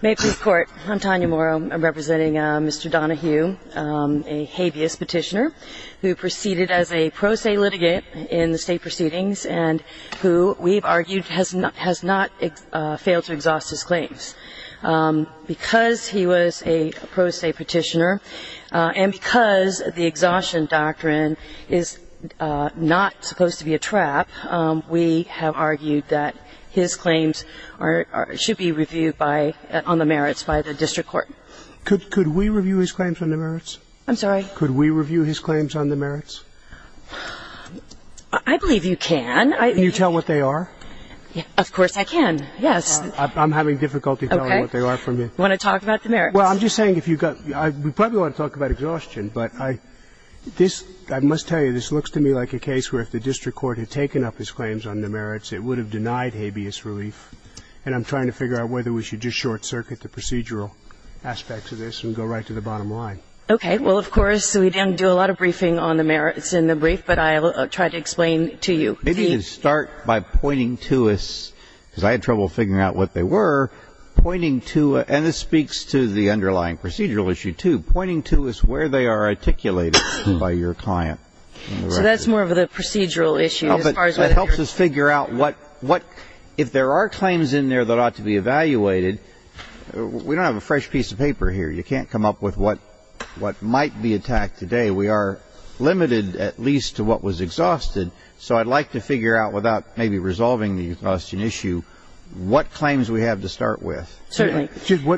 May peace court. I'm Tanya Morrow. I'm representing Mr. Donoghue, a habeas petitioner who proceeded as a pro se litigant in the state proceedings and who we've argued has not has not failed to exhaust his claims because he was a pro se petitioner and because the exhaustion doctrine is not supposed to be a trap. We have argued that his claims are in fact a trap. We have argued that his claims should be reviewed on the merits by the district court. Could we review his claims on the merits? I'm sorry? Could we review his claims on the merits? I believe you can. Can you tell what they are? Of course I can, yes. I'm having difficulty telling what they are from you. You want to talk about the merits? Well, I'm just saying if you've got, we probably want to talk about exhaustion, but I, this, I must tell you, this looks to me like a case where if the district court had taken up his claims on the merits, it would have denied habeas relief. And I'm trying to figure out whether we should just short circuit the procedural aspects of this and go right to the bottom line. Okay. Well, of course, we didn't do a lot of briefing on the merits in the brief, but I'll try to explain to you. Maybe you can start by pointing to us, because I had trouble figuring out what they were, pointing to, and this speaks to the underlying procedural issue, too, pointing to us where they are articulated by your client. So that's more of the procedural issue as far as whether you're... It helps us figure out what, if there are claims in there that ought to be evaluated, we don't have a fresh piece of paper here. You can't come up with what might be attacked today. We are limited, at least, to what was exhausted. So I'd like to figure out, without maybe resolving the exhaustion issue, what claims we have to start with. Certainly.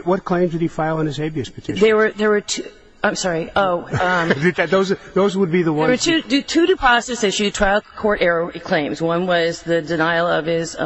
What claims did he file in his habeas petition? There were two, I'm sorry, oh... Those would be the ones... There were two depositors issue trial court error claims. One was the denial of his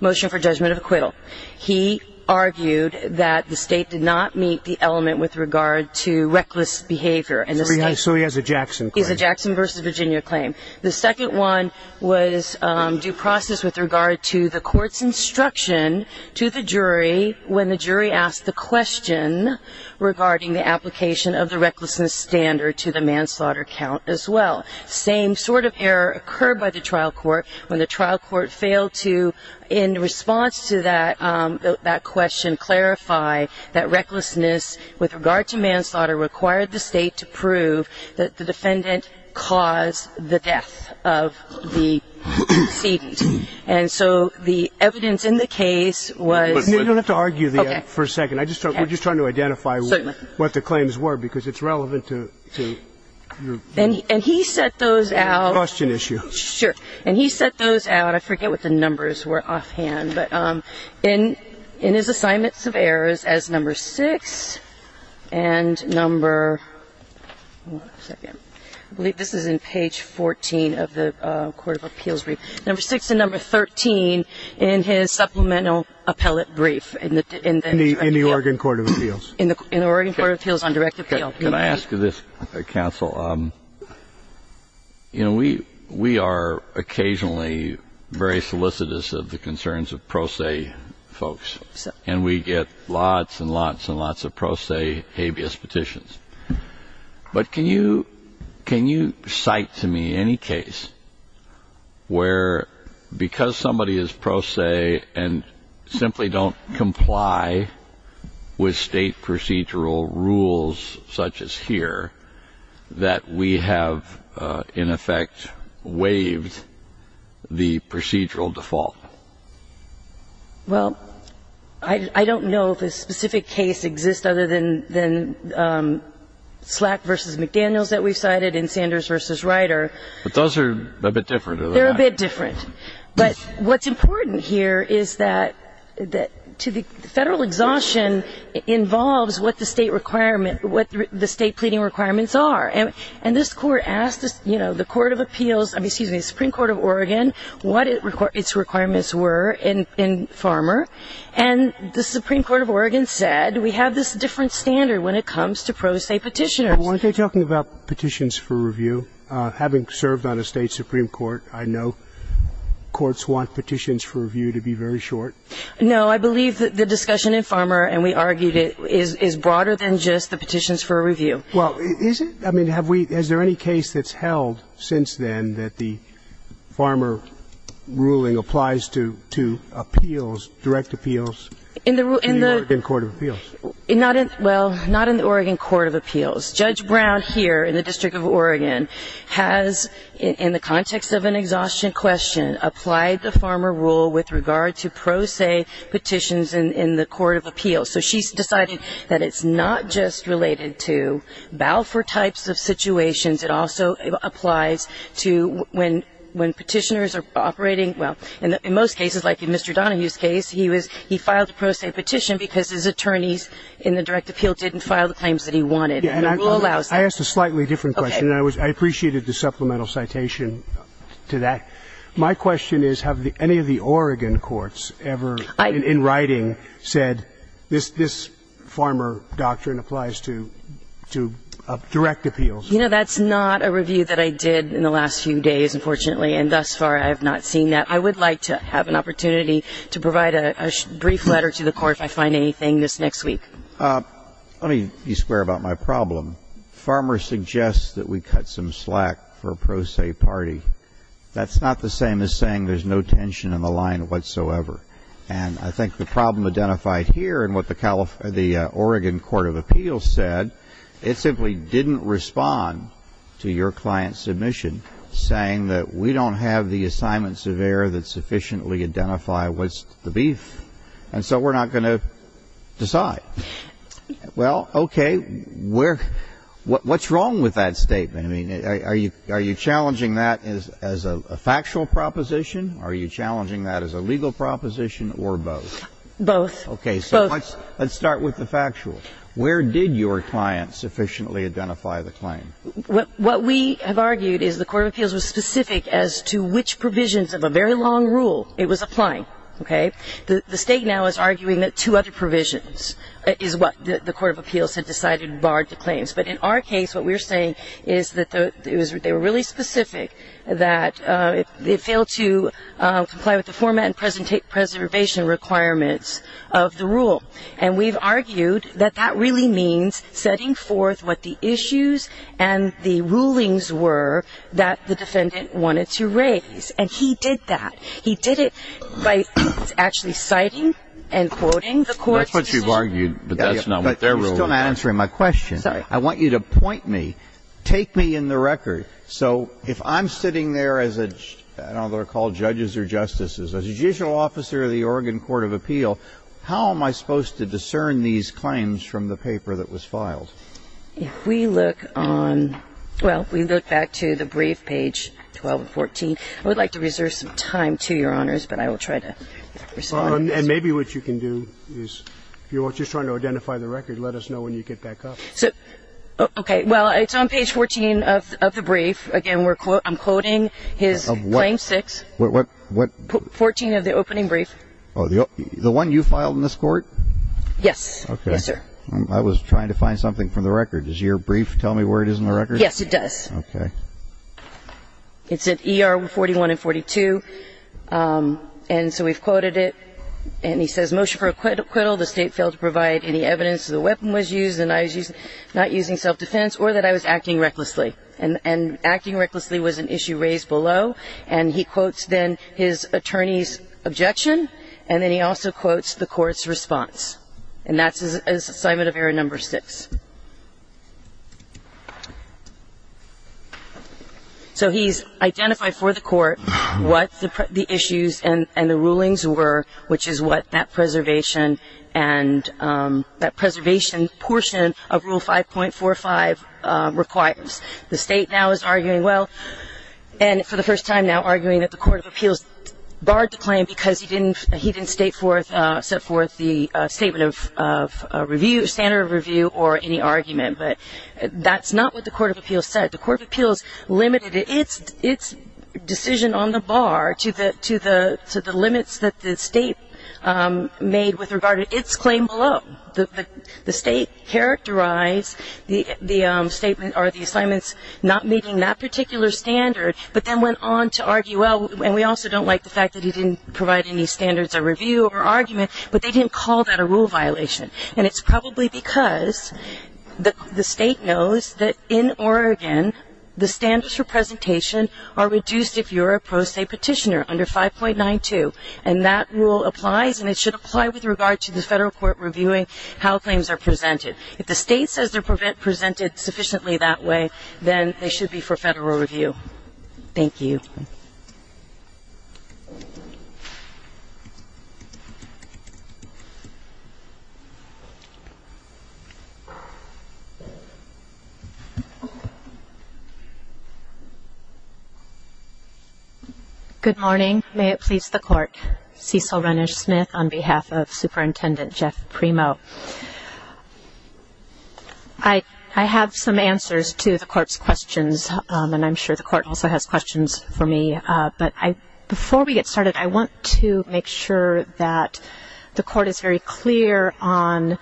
motion for judgment of acquittal. He argued that the state did not meet the element with regard to reckless behavior in the state. So he has a Jackson claim. He has a Jackson v. Virginia claim. The second one was due process with regard to the court's instruction to the jury when the jury asked the question regarding the application of the recklessness standard to the manslaughter count as well. Same sort of error occurred by the trial court when the trial court failed to, in response to that question, clarify that recklessness with regard to manslaughter required the state to prove that the defendant caused the death of the decedent. And so the evidence in the case was... You don't have to argue for a second. We're just trying to identify what the claims were because it's relevant to... And he set those out... Question issue. Sure. And he set those out. I forget what the numbers were offhand. But in his assignments of errors as number six and number... One second. I believe this is in page 14 of the court of appeals brief. Number six and number 13 in his supplemental appellate brief in the... In the Oregon court of appeals. In the Oregon court of appeals on direct appeal. Can I ask you this, counsel? You know, we are occasionally very solicitous of the concerns of pro se folks. And we get lots and lots and lots of pro se habeas petitions. But can you cite to me any case where because somebody is pro se and simply don't comply with state procedural rules such as here, that we have in effect waived the procedural default? Well, I don't know if a specific case exists other than Slack v. McDaniels that we've cited and Sanders v. Ryder. But those are a bit different. They're a bit different. But what's important here is that to the federal exhaustion involves what the state requirement, what the state pleading requirements are. And this court asked, you know, the court of appeals, I mean, excuse me, the Supreme Court of Oregon what its requirements were in Farmer. And the Supreme Court of Oregon said we have this different standard when it comes to pro se petitioners. Well, aren't they talking about petitions for review? Having served on a state Supreme Court, I know courts want petitions for review to be very short. No, I believe that the discussion in Farmer, and we argued it, is broader than just the petitions for review. Well, is it? I mean, have we, is there any case that's held since then that the Farmer ruling applies to appeals, direct appeals in the Oregon court of appeals? Well, not in the Oregon court of appeals. Judge Brown here in the District of Oregon has, in the context of an exhaustion question, applied the Farmer rule with regard to pro se petitions in the court of appeals. So she's decided that it's not just related to Balfour types of situations. It also applies to when petitioners are operating, well, in most cases, like in Mr. Donahue's case, he was, he filed a pro se petition because his attorneys in the direct appeal didn't file the claims that he wanted. And the rule allows that. I asked a slightly different question. Okay. And I appreciated the supplemental citation to that. My question is, have any of the Oregon courts ever, in writing, said this Farmer doctrine applies to direct appeals? You know, that's not a review that I did in the last few days, unfortunately, and thus far I have not seen that. I would like to have an opportunity to provide a brief letter to the Court if I find anything this next week. Let me be square about my problem. Farmer suggests that we cut some slack for a pro se party. That's not the same as saying there's no tension in the line whatsoever. And I think the problem identified here in what the Oregon Court of Appeals said, it simply didn't respond to your client's submission saying that we don't have the assignments of error that sufficiently identify what's the beef, and so we're not going to decide. Well, okay. What's wrong with that statement? I mean, are you challenging that as a factual proposition? Are you challenging that as a legal proposition or both? Both. Okay. So let's start with the factual. Where did your client sufficiently identify the claim? What we have argued is the Court of Appeals was specific as to which provisions of a very long rule it was applying. Okay? The State now is arguing that two other provisions is what the Court of Appeals had decided barred the claims. But in our case, what we're saying is that they were really specific, that they failed to comply with the format and preservation requirements of the rule. And we've argued that that really means setting forth what the issues and the rulings were that the defendant wanted to raise. And he did that. He did it by actually citing and quoting the court's decision. That's what you've argued, but that's not what they're ruling. You're still not answering my question. I'm sorry. I want you to point me, take me in the record. So if I'm sitting there as a, I don't know if they're called judges or justices, a judicial officer of the Oregon Court of Appeal, how am I supposed to discern these claims from the paper that was filed? If we look on, well, we look back to the brief page 12 and 14. I would like to reserve some time to Your Honors, but I will try to respond. And maybe what you can do is if you're just trying to identify the record, let us know when you get back up. Okay. Well, it's on page 14 of the brief. Again, I'm quoting his claim 6. What? 14 of the opening brief. The one you filed in this court? Yes. Okay. Yes, sir. I was trying to find something from the record. Does your brief tell me where it is in the record? Yes, it does. Okay. It's at ER 41 and 42. And so we've quoted it. And he says, motion for acquittal. The state failed to provide any evidence that a weapon was used and I was not using self-defense or that I was acting recklessly. And acting recklessly was an issue raised below. And he quotes then his attorney's objection. And then he also quotes the court's response. And that's assignment of error number 6. So he's identified for the court what the issues and the rulings were, which is what that preservation portion of Rule 5.45 requires. The state now is arguing, well, and for the first time now, arguing that the Court of Appeals barred the claim because he didn't set forth the statement of review, standard of review, or any argument. But that's not what the Court of Appeals said. The Court of Appeals limited its decision on the bar to the limits that the state made with regard to its claim below. The state characterized the statement or the assignments not meeting that particular standard, but then went on to argue, well, and we also don't like the fact that he didn't provide any standards of review or argument, but they didn't call that a rule violation. And it's probably because the state knows that in Oregon, the standards for presentation are reduced if you're a pro se petitioner under 5.92. And that rule applies, and it should apply with regard to the federal court reviewing how claims are presented. If the state says they're presented sufficiently that way, then they should be for federal review. Thank you. Thank you. Good morning. May it please the Court. Cecil Renish Smith on behalf of Superintendent Jeff Primo. I have some answers to the Court's questions, and I'm sure the Court also has questions for me. But before we get started, I want to make sure that the Court is very clear on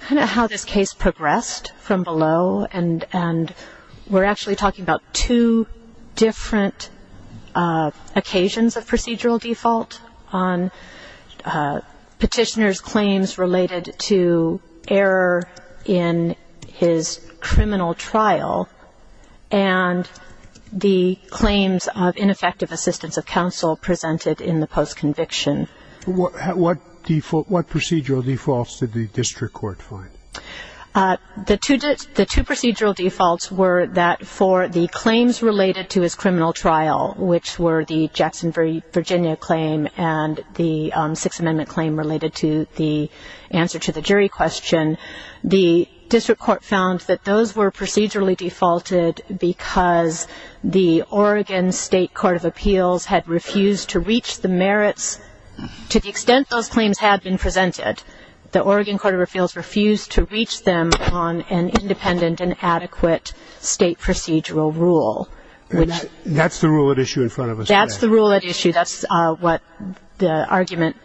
kind of how this case progressed from below. And we're actually talking about two different occasions of procedural default on petitioners' claims related to error in his criminal trial and the claims of ineffective assistance of counsel presented in the post-conviction. What procedural defaults did the district court find? The two procedural defaults were that for the claims related to his criminal trial, which were the Jackson, Virginia claim and the Sixth Amendment claim related to the answer to the jury question, the district court found that those were procedurally defaulted because the Oregon State Court of Appeals had refused to reach the merits to the extent those claims had been presented. The Oregon Court of Appeals refused to reach them on an independent and adequate state procedural rule. That's the rule at issue in front of us today. That's the rule at issue. That's what the argument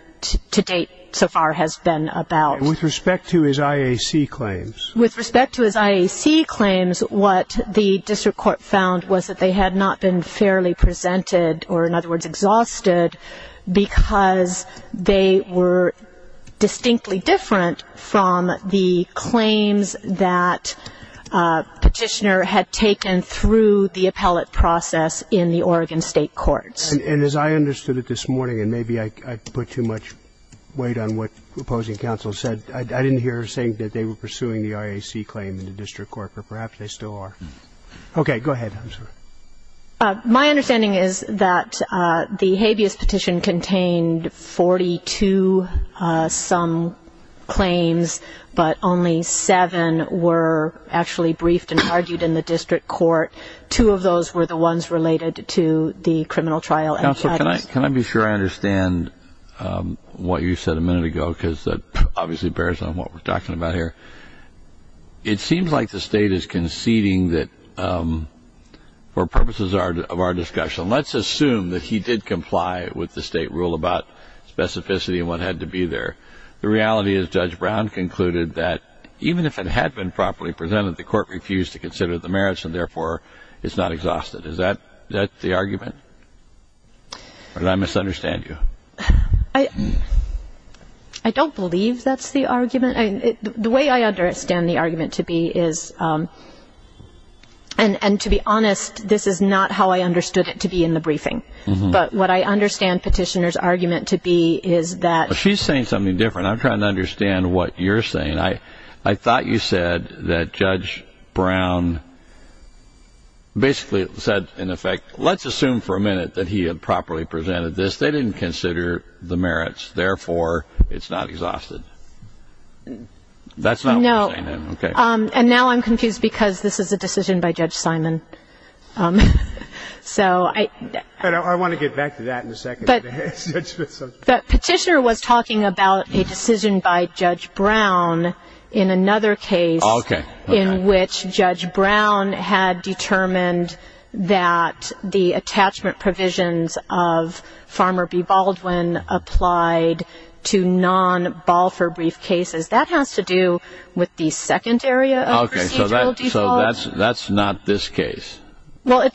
to date so far has been about. And with respect to his IAC claims? With respect to his IAC claims, what the district court found was that they had not been fairly presented, or in other words, exhausted, because they were distinctly different from the claims that Petitioner had taken through the appellate process in the Oregon State Courts. And as I understood it this morning, and maybe I put too much weight on what opposing counsel said, I didn't hear her saying that they were pursuing the IAC claim in the district court, but perhaps they still are. Okay. Go ahead. My understanding is that the habeas petition contained 42-some claims, but only seven were actually briefed and argued in the district court. Two of those were the ones related to the criminal trial. Counsel, can I be sure I understand what you said a minute ago? Because that obviously bears on what we're talking about here. It seems like the state is conceding that for purposes of our discussion, let's assume that he did comply with the state rule about specificity and what had to be there. The reality is Judge Brown concluded that even if it had been properly presented, the court refused to consider the merits, and therefore it's not exhausted. Is that the argument? Or did I misunderstand you? I don't believe that's the argument. The way I understand the argument to be is, and to be honest, this is not how I understood it to be in the briefing. But what I understand Petitioner's argument to be is that. She's saying something different. I'm trying to understand what you're saying. I thought you said that Judge Brown basically said, in effect, let's assume for a minute that he had properly presented this. They didn't consider the merits, therefore it's not exhausted. That's not what you're saying then. And now I'm confused because this is a decision by Judge Simon. I want to get back to that in a second. But Petitioner was talking about a decision by Judge Brown in another case in which Judge Brown had determined that the attachment provisions of Farmer v. Baldwin applied to non-Balfour brief cases. That has to do with the second area of procedural default. Okay. So that's not this case. Well,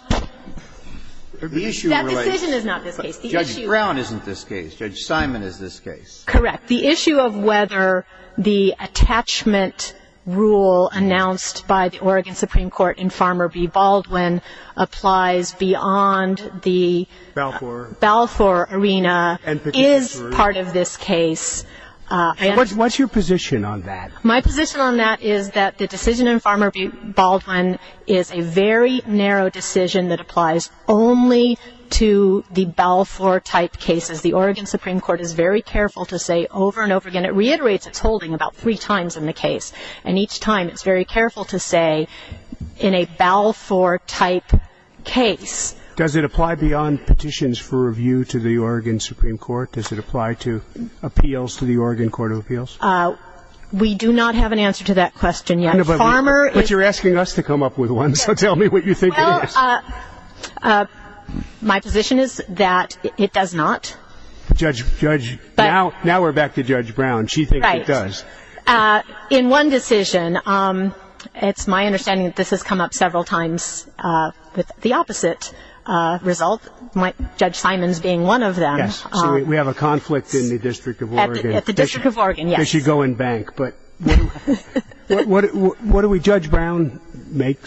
that decision is not this case. Judge Brown isn't this case. Judge Simon is this case. Correct. The issue of whether the attachment rule announced by the Oregon Supreme Court in Farmer v. Baldwin applies beyond the Balfour arena is part of this case. What's your position on that? My position on that is that the decision in Farmer v. Baldwin is a very narrow decision that applies only to the Balfour-type cases. The Oregon Supreme Court is very careful to say over and over again. It reiterates its holding about three times in the case, and each time it's very careful to say in a Balfour-type case. Does it apply beyond petitions for review to the Oregon Supreme Court? Does it apply to appeals to the Oregon Court of Appeals? We do not have an answer to that question yet. But you're asking us to come up with one, so tell me what you think it is. My position is that it does not. Now we're back to Judge Brown. She thinks it does. Right. In one decision, it's my understanding that this has come up several times with the opposite result, Judge Simon's being one of them. Yes. So we have a conflict in the District of Oregon. At the District of Oregon, yes. But what do we, Judge Brown, make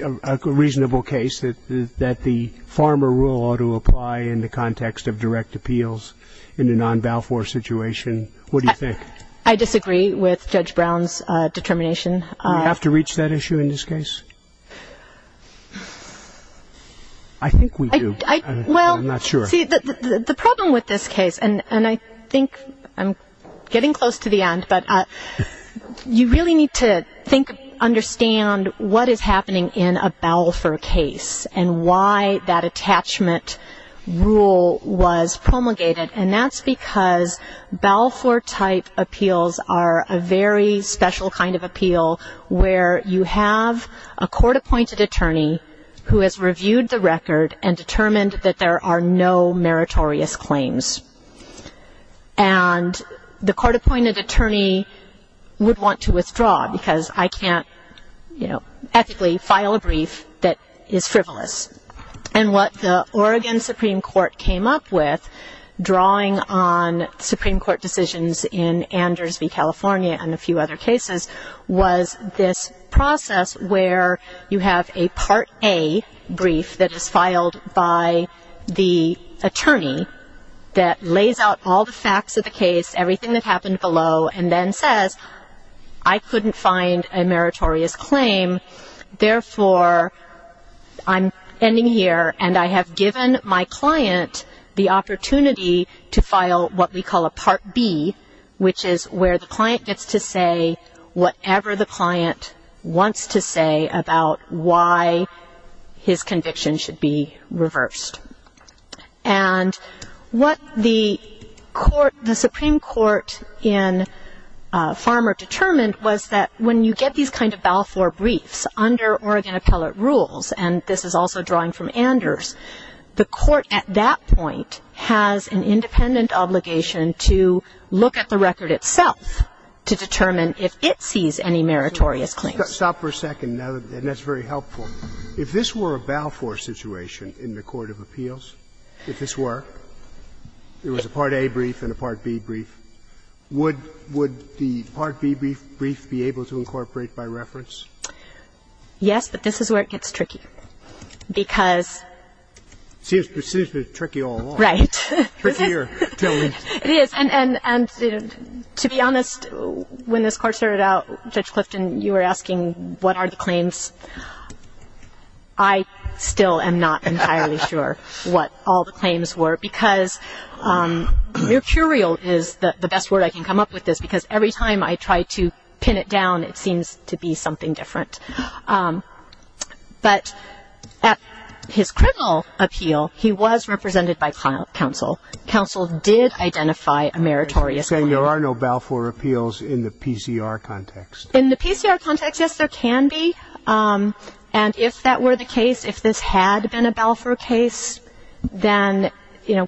a reasonable case, that the Farmer Rule ought to apply in the context of direct appeals in a non-Balfour situation? What do you think? I disagree with Judge Brown's determination. Do we have to reach that issue in this case? I think we do. I'm not sure. See, the problem with this case, and I think I'm getting close to the end, but you really need to think, understand what is happening in a Balfour case and why that attachment rule was promulgated. And that's because Balfour-type appeals are a very special kind of appeal where you have a court-appointed attorney who has reviewed the record and determined that there are no meritorious claims. And the court-appointed attorney would want to withdraw because I can't, you know, ethically file a brief that is frivolous. And what the Oregon Supreme Court came up with, drawing on Supreme Court decisions in Anders v. California and a few other cases, was this process where you have a Part A brief that is filed by the attorney that lays out all the facts of the case, everything that happened below, and then says, I couldn't find a meritorious claim, therefore I'm ending here, and I have given my client the opportunity to file what we call a Part B, which is where the client gets to say whatever the client wants to say about why his conviction should be reversed. And what the Supreme Court in Farmer determined was that when you get these kind of Balfour briefs under Oregon appellate rules, and this is also drawing from Anders, the court at that point has an independent obligation to look at the record itself to determine if it sees any meritorious claims. Sotomayor, stop for a second, and that's very helpful. If this were a Balfour situation in the court of appeals, if this were, there was a Part A brief and a Part B brief, would the Part B brief be able to incorporate by reference? Yes, but this is where it gets tricky. It seems to be tricky all along. Right. Trickier. It is, and to be honest, when this court started out, Judge Clifton, you were asking what are the claims. I still am not entirely sure what all the claims were because mercurial is the best word I can come up with this, because every time I try to pin it down, it seems to be something different. But at his criminal appeal, he was represented by counsel. Counsel did identify a meritorious claim. You're saying there are no Balfour appeals in the PCR context. In the PCR context, yes, there can be. And if that were the case, if this had been a Balfour case, then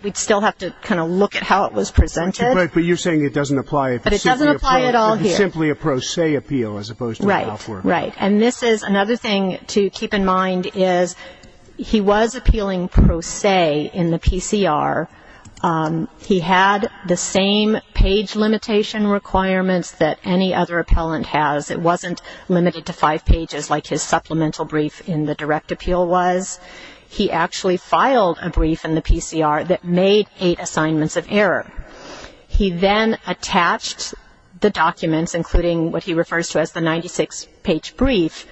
we'd still have to kind of look at how it was presented. But you're saying it doesn't apply if it's simply a pro se appeal as opposed to Balfour. Right. And this is another thing to keep in mind is he was appealing pro se in the PCR. He had the same page limitation requirements that any other appellant has. It wasn't limited to five pages like his supplemental brief in the direct appeal was. He actually filed a brief in the PCR that made eight assignments of error. He then attached the documents, including what he refers to as the 96-page brief,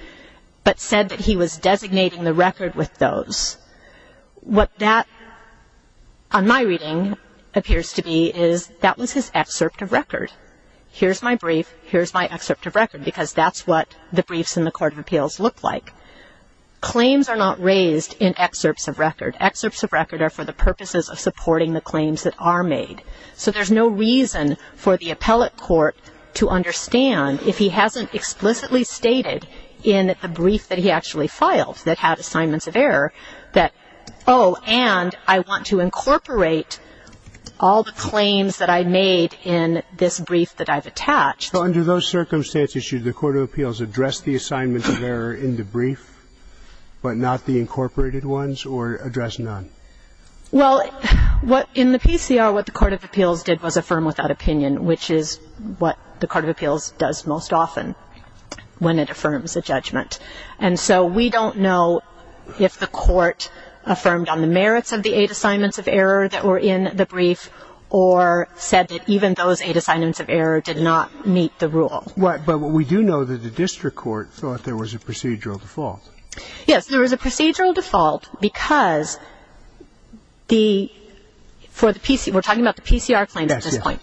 but said that he was designating the record with those. What that, on my reading, appears to be is that was his excerpt of record. Here's my brief, here's my excerpt of record, because that's what the briefs in the court of appeals look like. So there's no reason for the appellate court to understand if he hasn't explicitly stated in the brief that he actually filed that had assignments of error that, oh, and I want to incorporate all the claims that I made in this brief that I've attached. So under those circumstances, should the court of appeals address the assignments of error in the brief, but not the incorporated ones, or address none? Well, in the PCR, what the court of appeals did was affirm without opinion, which is what the court of appeals does most often when it affirms a judgment. And so we don't know if the court affirmed on the merits of the eight assignments of error that were in the brief, or said that even those eight assignments of error did not meet the rule. But we do know that the district court thought there was a procedural default. Yes. There was a procedural default because the PCR, we're talking about the PCR claims at this point.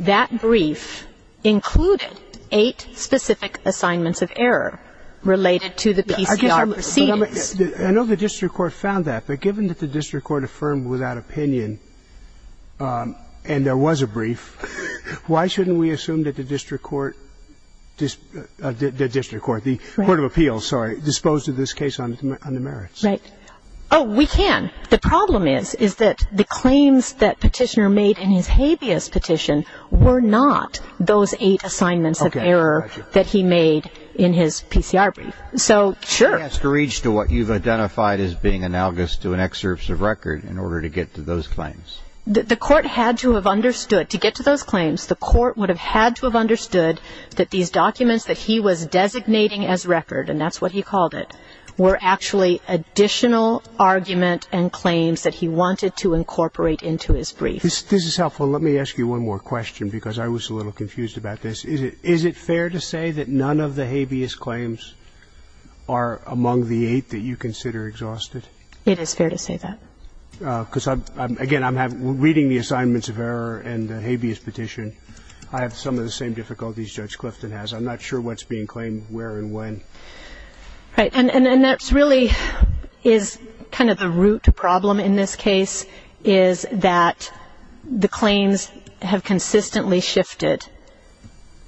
That brief included eight specific assignments of error related to the PCR proceedings. I know the district court found that, but given that the district court affirmed without opinion, and there was a brief, why shouldn't we assume that the district court, the district court, the court of appeals, sorry, disposed of this case on the merits? Right. Oh, we can. The problem is, is that the claims that Petitioner made in his habeas petition were not those eight assignments of error that he made in his PCR brief. So, sure. But there's no discourage to what you've identified as being analogous to an excerpt of record in order to get to those claims. The court had to have understood, to get to those claims, the court would have had to have understood that these documents that he was designating as record, and that's what he called it, were actually additional argument and claims that he wanted to incorporate into his brief. This is helpful. Let me ask you one more question because I was a little confused about this. Is it fair to say that none of the habeas claims are among the eight that you consider exhausted? It is fair to say that. Because, again, I'm reading the assignments of error and the habeas petition. I have some of the same difficulties Judge Clifton has. I'm not sure what's being claimed where and when. Right. And that really is kind of the root problem in this case, is that the claims have consistently shifted.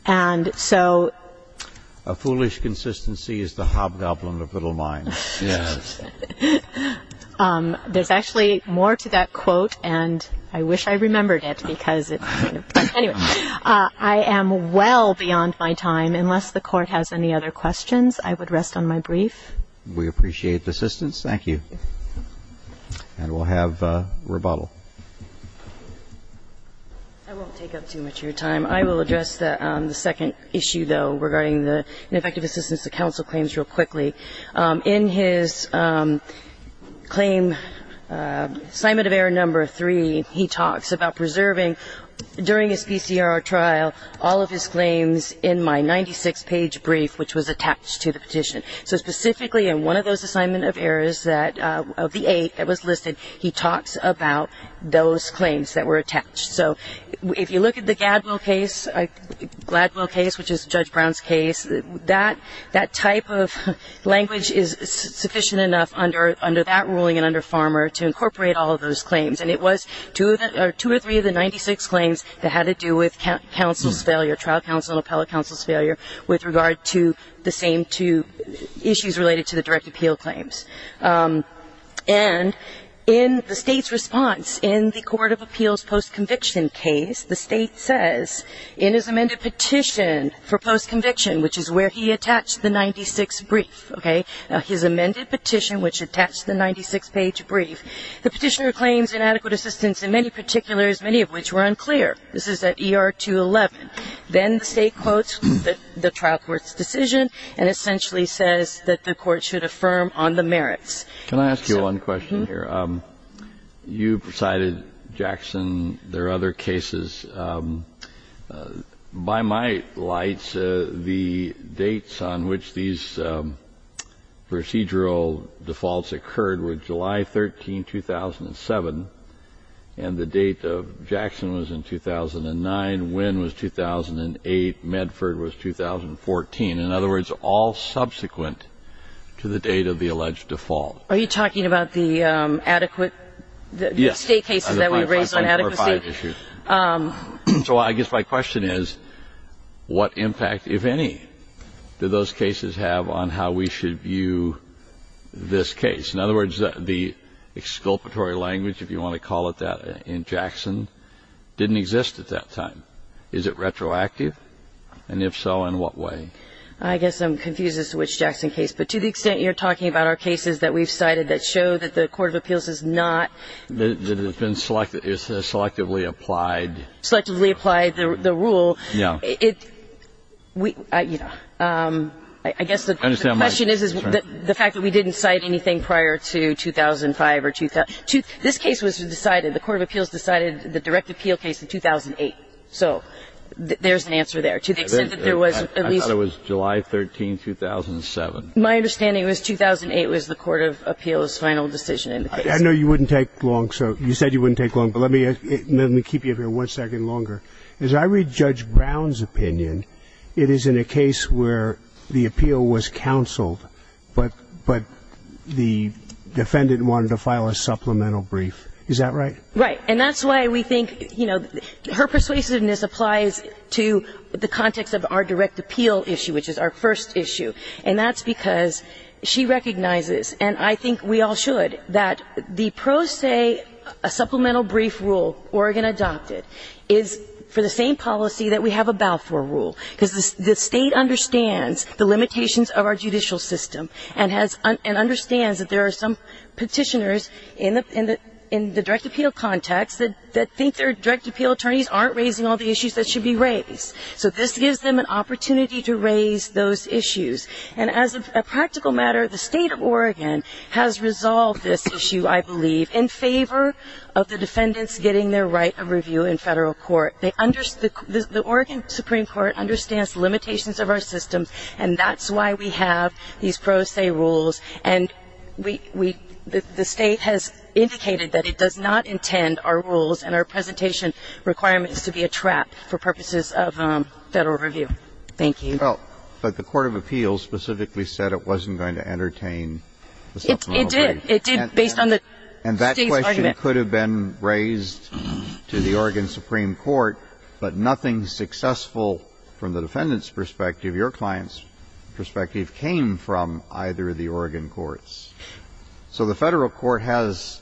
And so ---- A foolish consistency is the hobgoblin of little minds. Yes. There's actually more to that quote, and I wish I remembered it because it's kind of ---- Anyway, I am well beyond my time. Unless the Court has any other questions, I would rest on my brief. We appreciate the assistance. Thank you. And we'll have rebuttal. I won't take up too much of your time. I will address the second issue, though, regarding the ineffective assistance to counsel claims real quickly. In his claim, assignment of error number three, he talks about preserving, during his PCR trial, all of his claims in my 96-page brief, which was attached to the petition. So specifically in one of those assignment of errors, of the eight that was listed, he talks about those claims that were attached. So if you look at the Gladwell case, which is Judge Brown's case, that type of language is sufficient enough under that ruling and under Farmer to incorporate all of those claims. And it was two or three of the 96 claims that had to do with counsel's failure, trial counsel and appellate counsel's failure, with regard to the same two issues related to the direct appeal claims. And in the State's response, in the Court of Appeals post-conviction case, the State says, in his amended petition for post-conviction, which is where he attached the 96 brief, okay, his amended petition which attached the 96-page brief, the petitioner claims inadequate assistance in many particulars, many of which were unclear. This is at ER 211. Then the State quotes the trial court's decision and essentially says that the Can I ask you one question here? You cited Jackson. There are other cases. By my lights, the dates on which these procedural defaults occurred were July 13, 2007, and the date of Jackson was in 2009. Wynn was 2008. Medford was 2014. In other words, all subsequent to the date of the alleged default. Are you talking about the adequate State cases that we raised on adequacy? Yes. So I guess my question is, what impact, if any, do those cases have on how we should view this case? In other words, the exculpatory language, if you want to call it that, in Jackson, didn't exist at that time. Is it retroactive? And if so, in what way? I guess I'm confused as to which Jackson case. But to the extent you're talking about our cases that we've cited that show that the Court of Appeals is not That it has been selectively applied. Selectively applied, the rule. Yeah. I guess the question is the fact that we didn't cite anything prior to 2005. This case was decided, the Court of Appeals decided the direct appeal case in 2008. So there's an answer there. To the extent that there was at least I thought it was July 13, 2007. My understanding was 2008 was the Court of Appeals' final decision in the case. I know you wouldn't take long. So you said you wouldn't take long. But let me keep you here one second longer. As I read Judge Brown's opinion, it is in a case where the appeal was counseled, but the defendant wanted to file a supplemental brief. Is that right? Right. And that's why we think, you know, her persuasiveness applies to the context of our direct appeal issue, which is our first issue. And that's because she recognizes, and I think we all should, that the pro se supplemental brief rule Oregon adopted is for the same policy that we have about for a rule. Because the State understands the limitations of our judicial system and understands that there are some petitioners in the direct appeal context that think their direct appeal attorneys aren't raising all the issues that should be raised. So this gives them an opportunity to raise those issues. And as a practical matter, the State of Oregon has resolved this issue, I believe, in favor of the defendants getting their right of review in federal court. The Oregon Supreme Court understands the limitations of our system, and that's why we have these pro se rules. And the State has indicated that it does not intend our rules and our presentation requirements to be a trap for purposes of federal review. Thank you. Well, but the court of appeals specifically said it wasn't going to entertain the supplemental brief. It did. It did, based on the State's argument. And that question could have been raised to the Oregon Supreme Court, but nothing successful from the defendant's perspective, your client's perspective, came from either of the Oregon courts. So the federal court has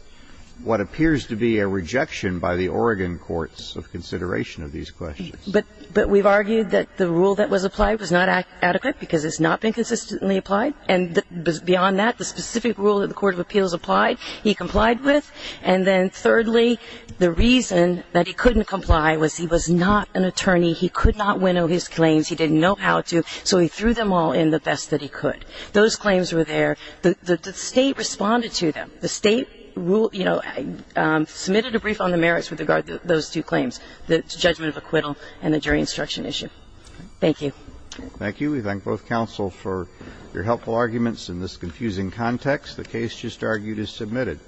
what appears to be a rejection by the Oregon courts of consideration of these questions. But we've argued that the rule that was applied was not adequate because it's not been consistently applied. And beyond that, the specific rule that the court of appeals applied, he complied with. And then thirdly, the reason that he couldn't comply was he was not an attorney. He could not winnow his claims. He didn't know how to. So he threw them all in the best that he could. Those claims were there. The State responded to them. The State, you know, submitted a brief on the merits with regard to those two claims, the judgment of acquittal and the jury instruction issue. Thank you. Thank you. We thank both counsel for your helpful arguments in this confusing context. The case just argued is submitted.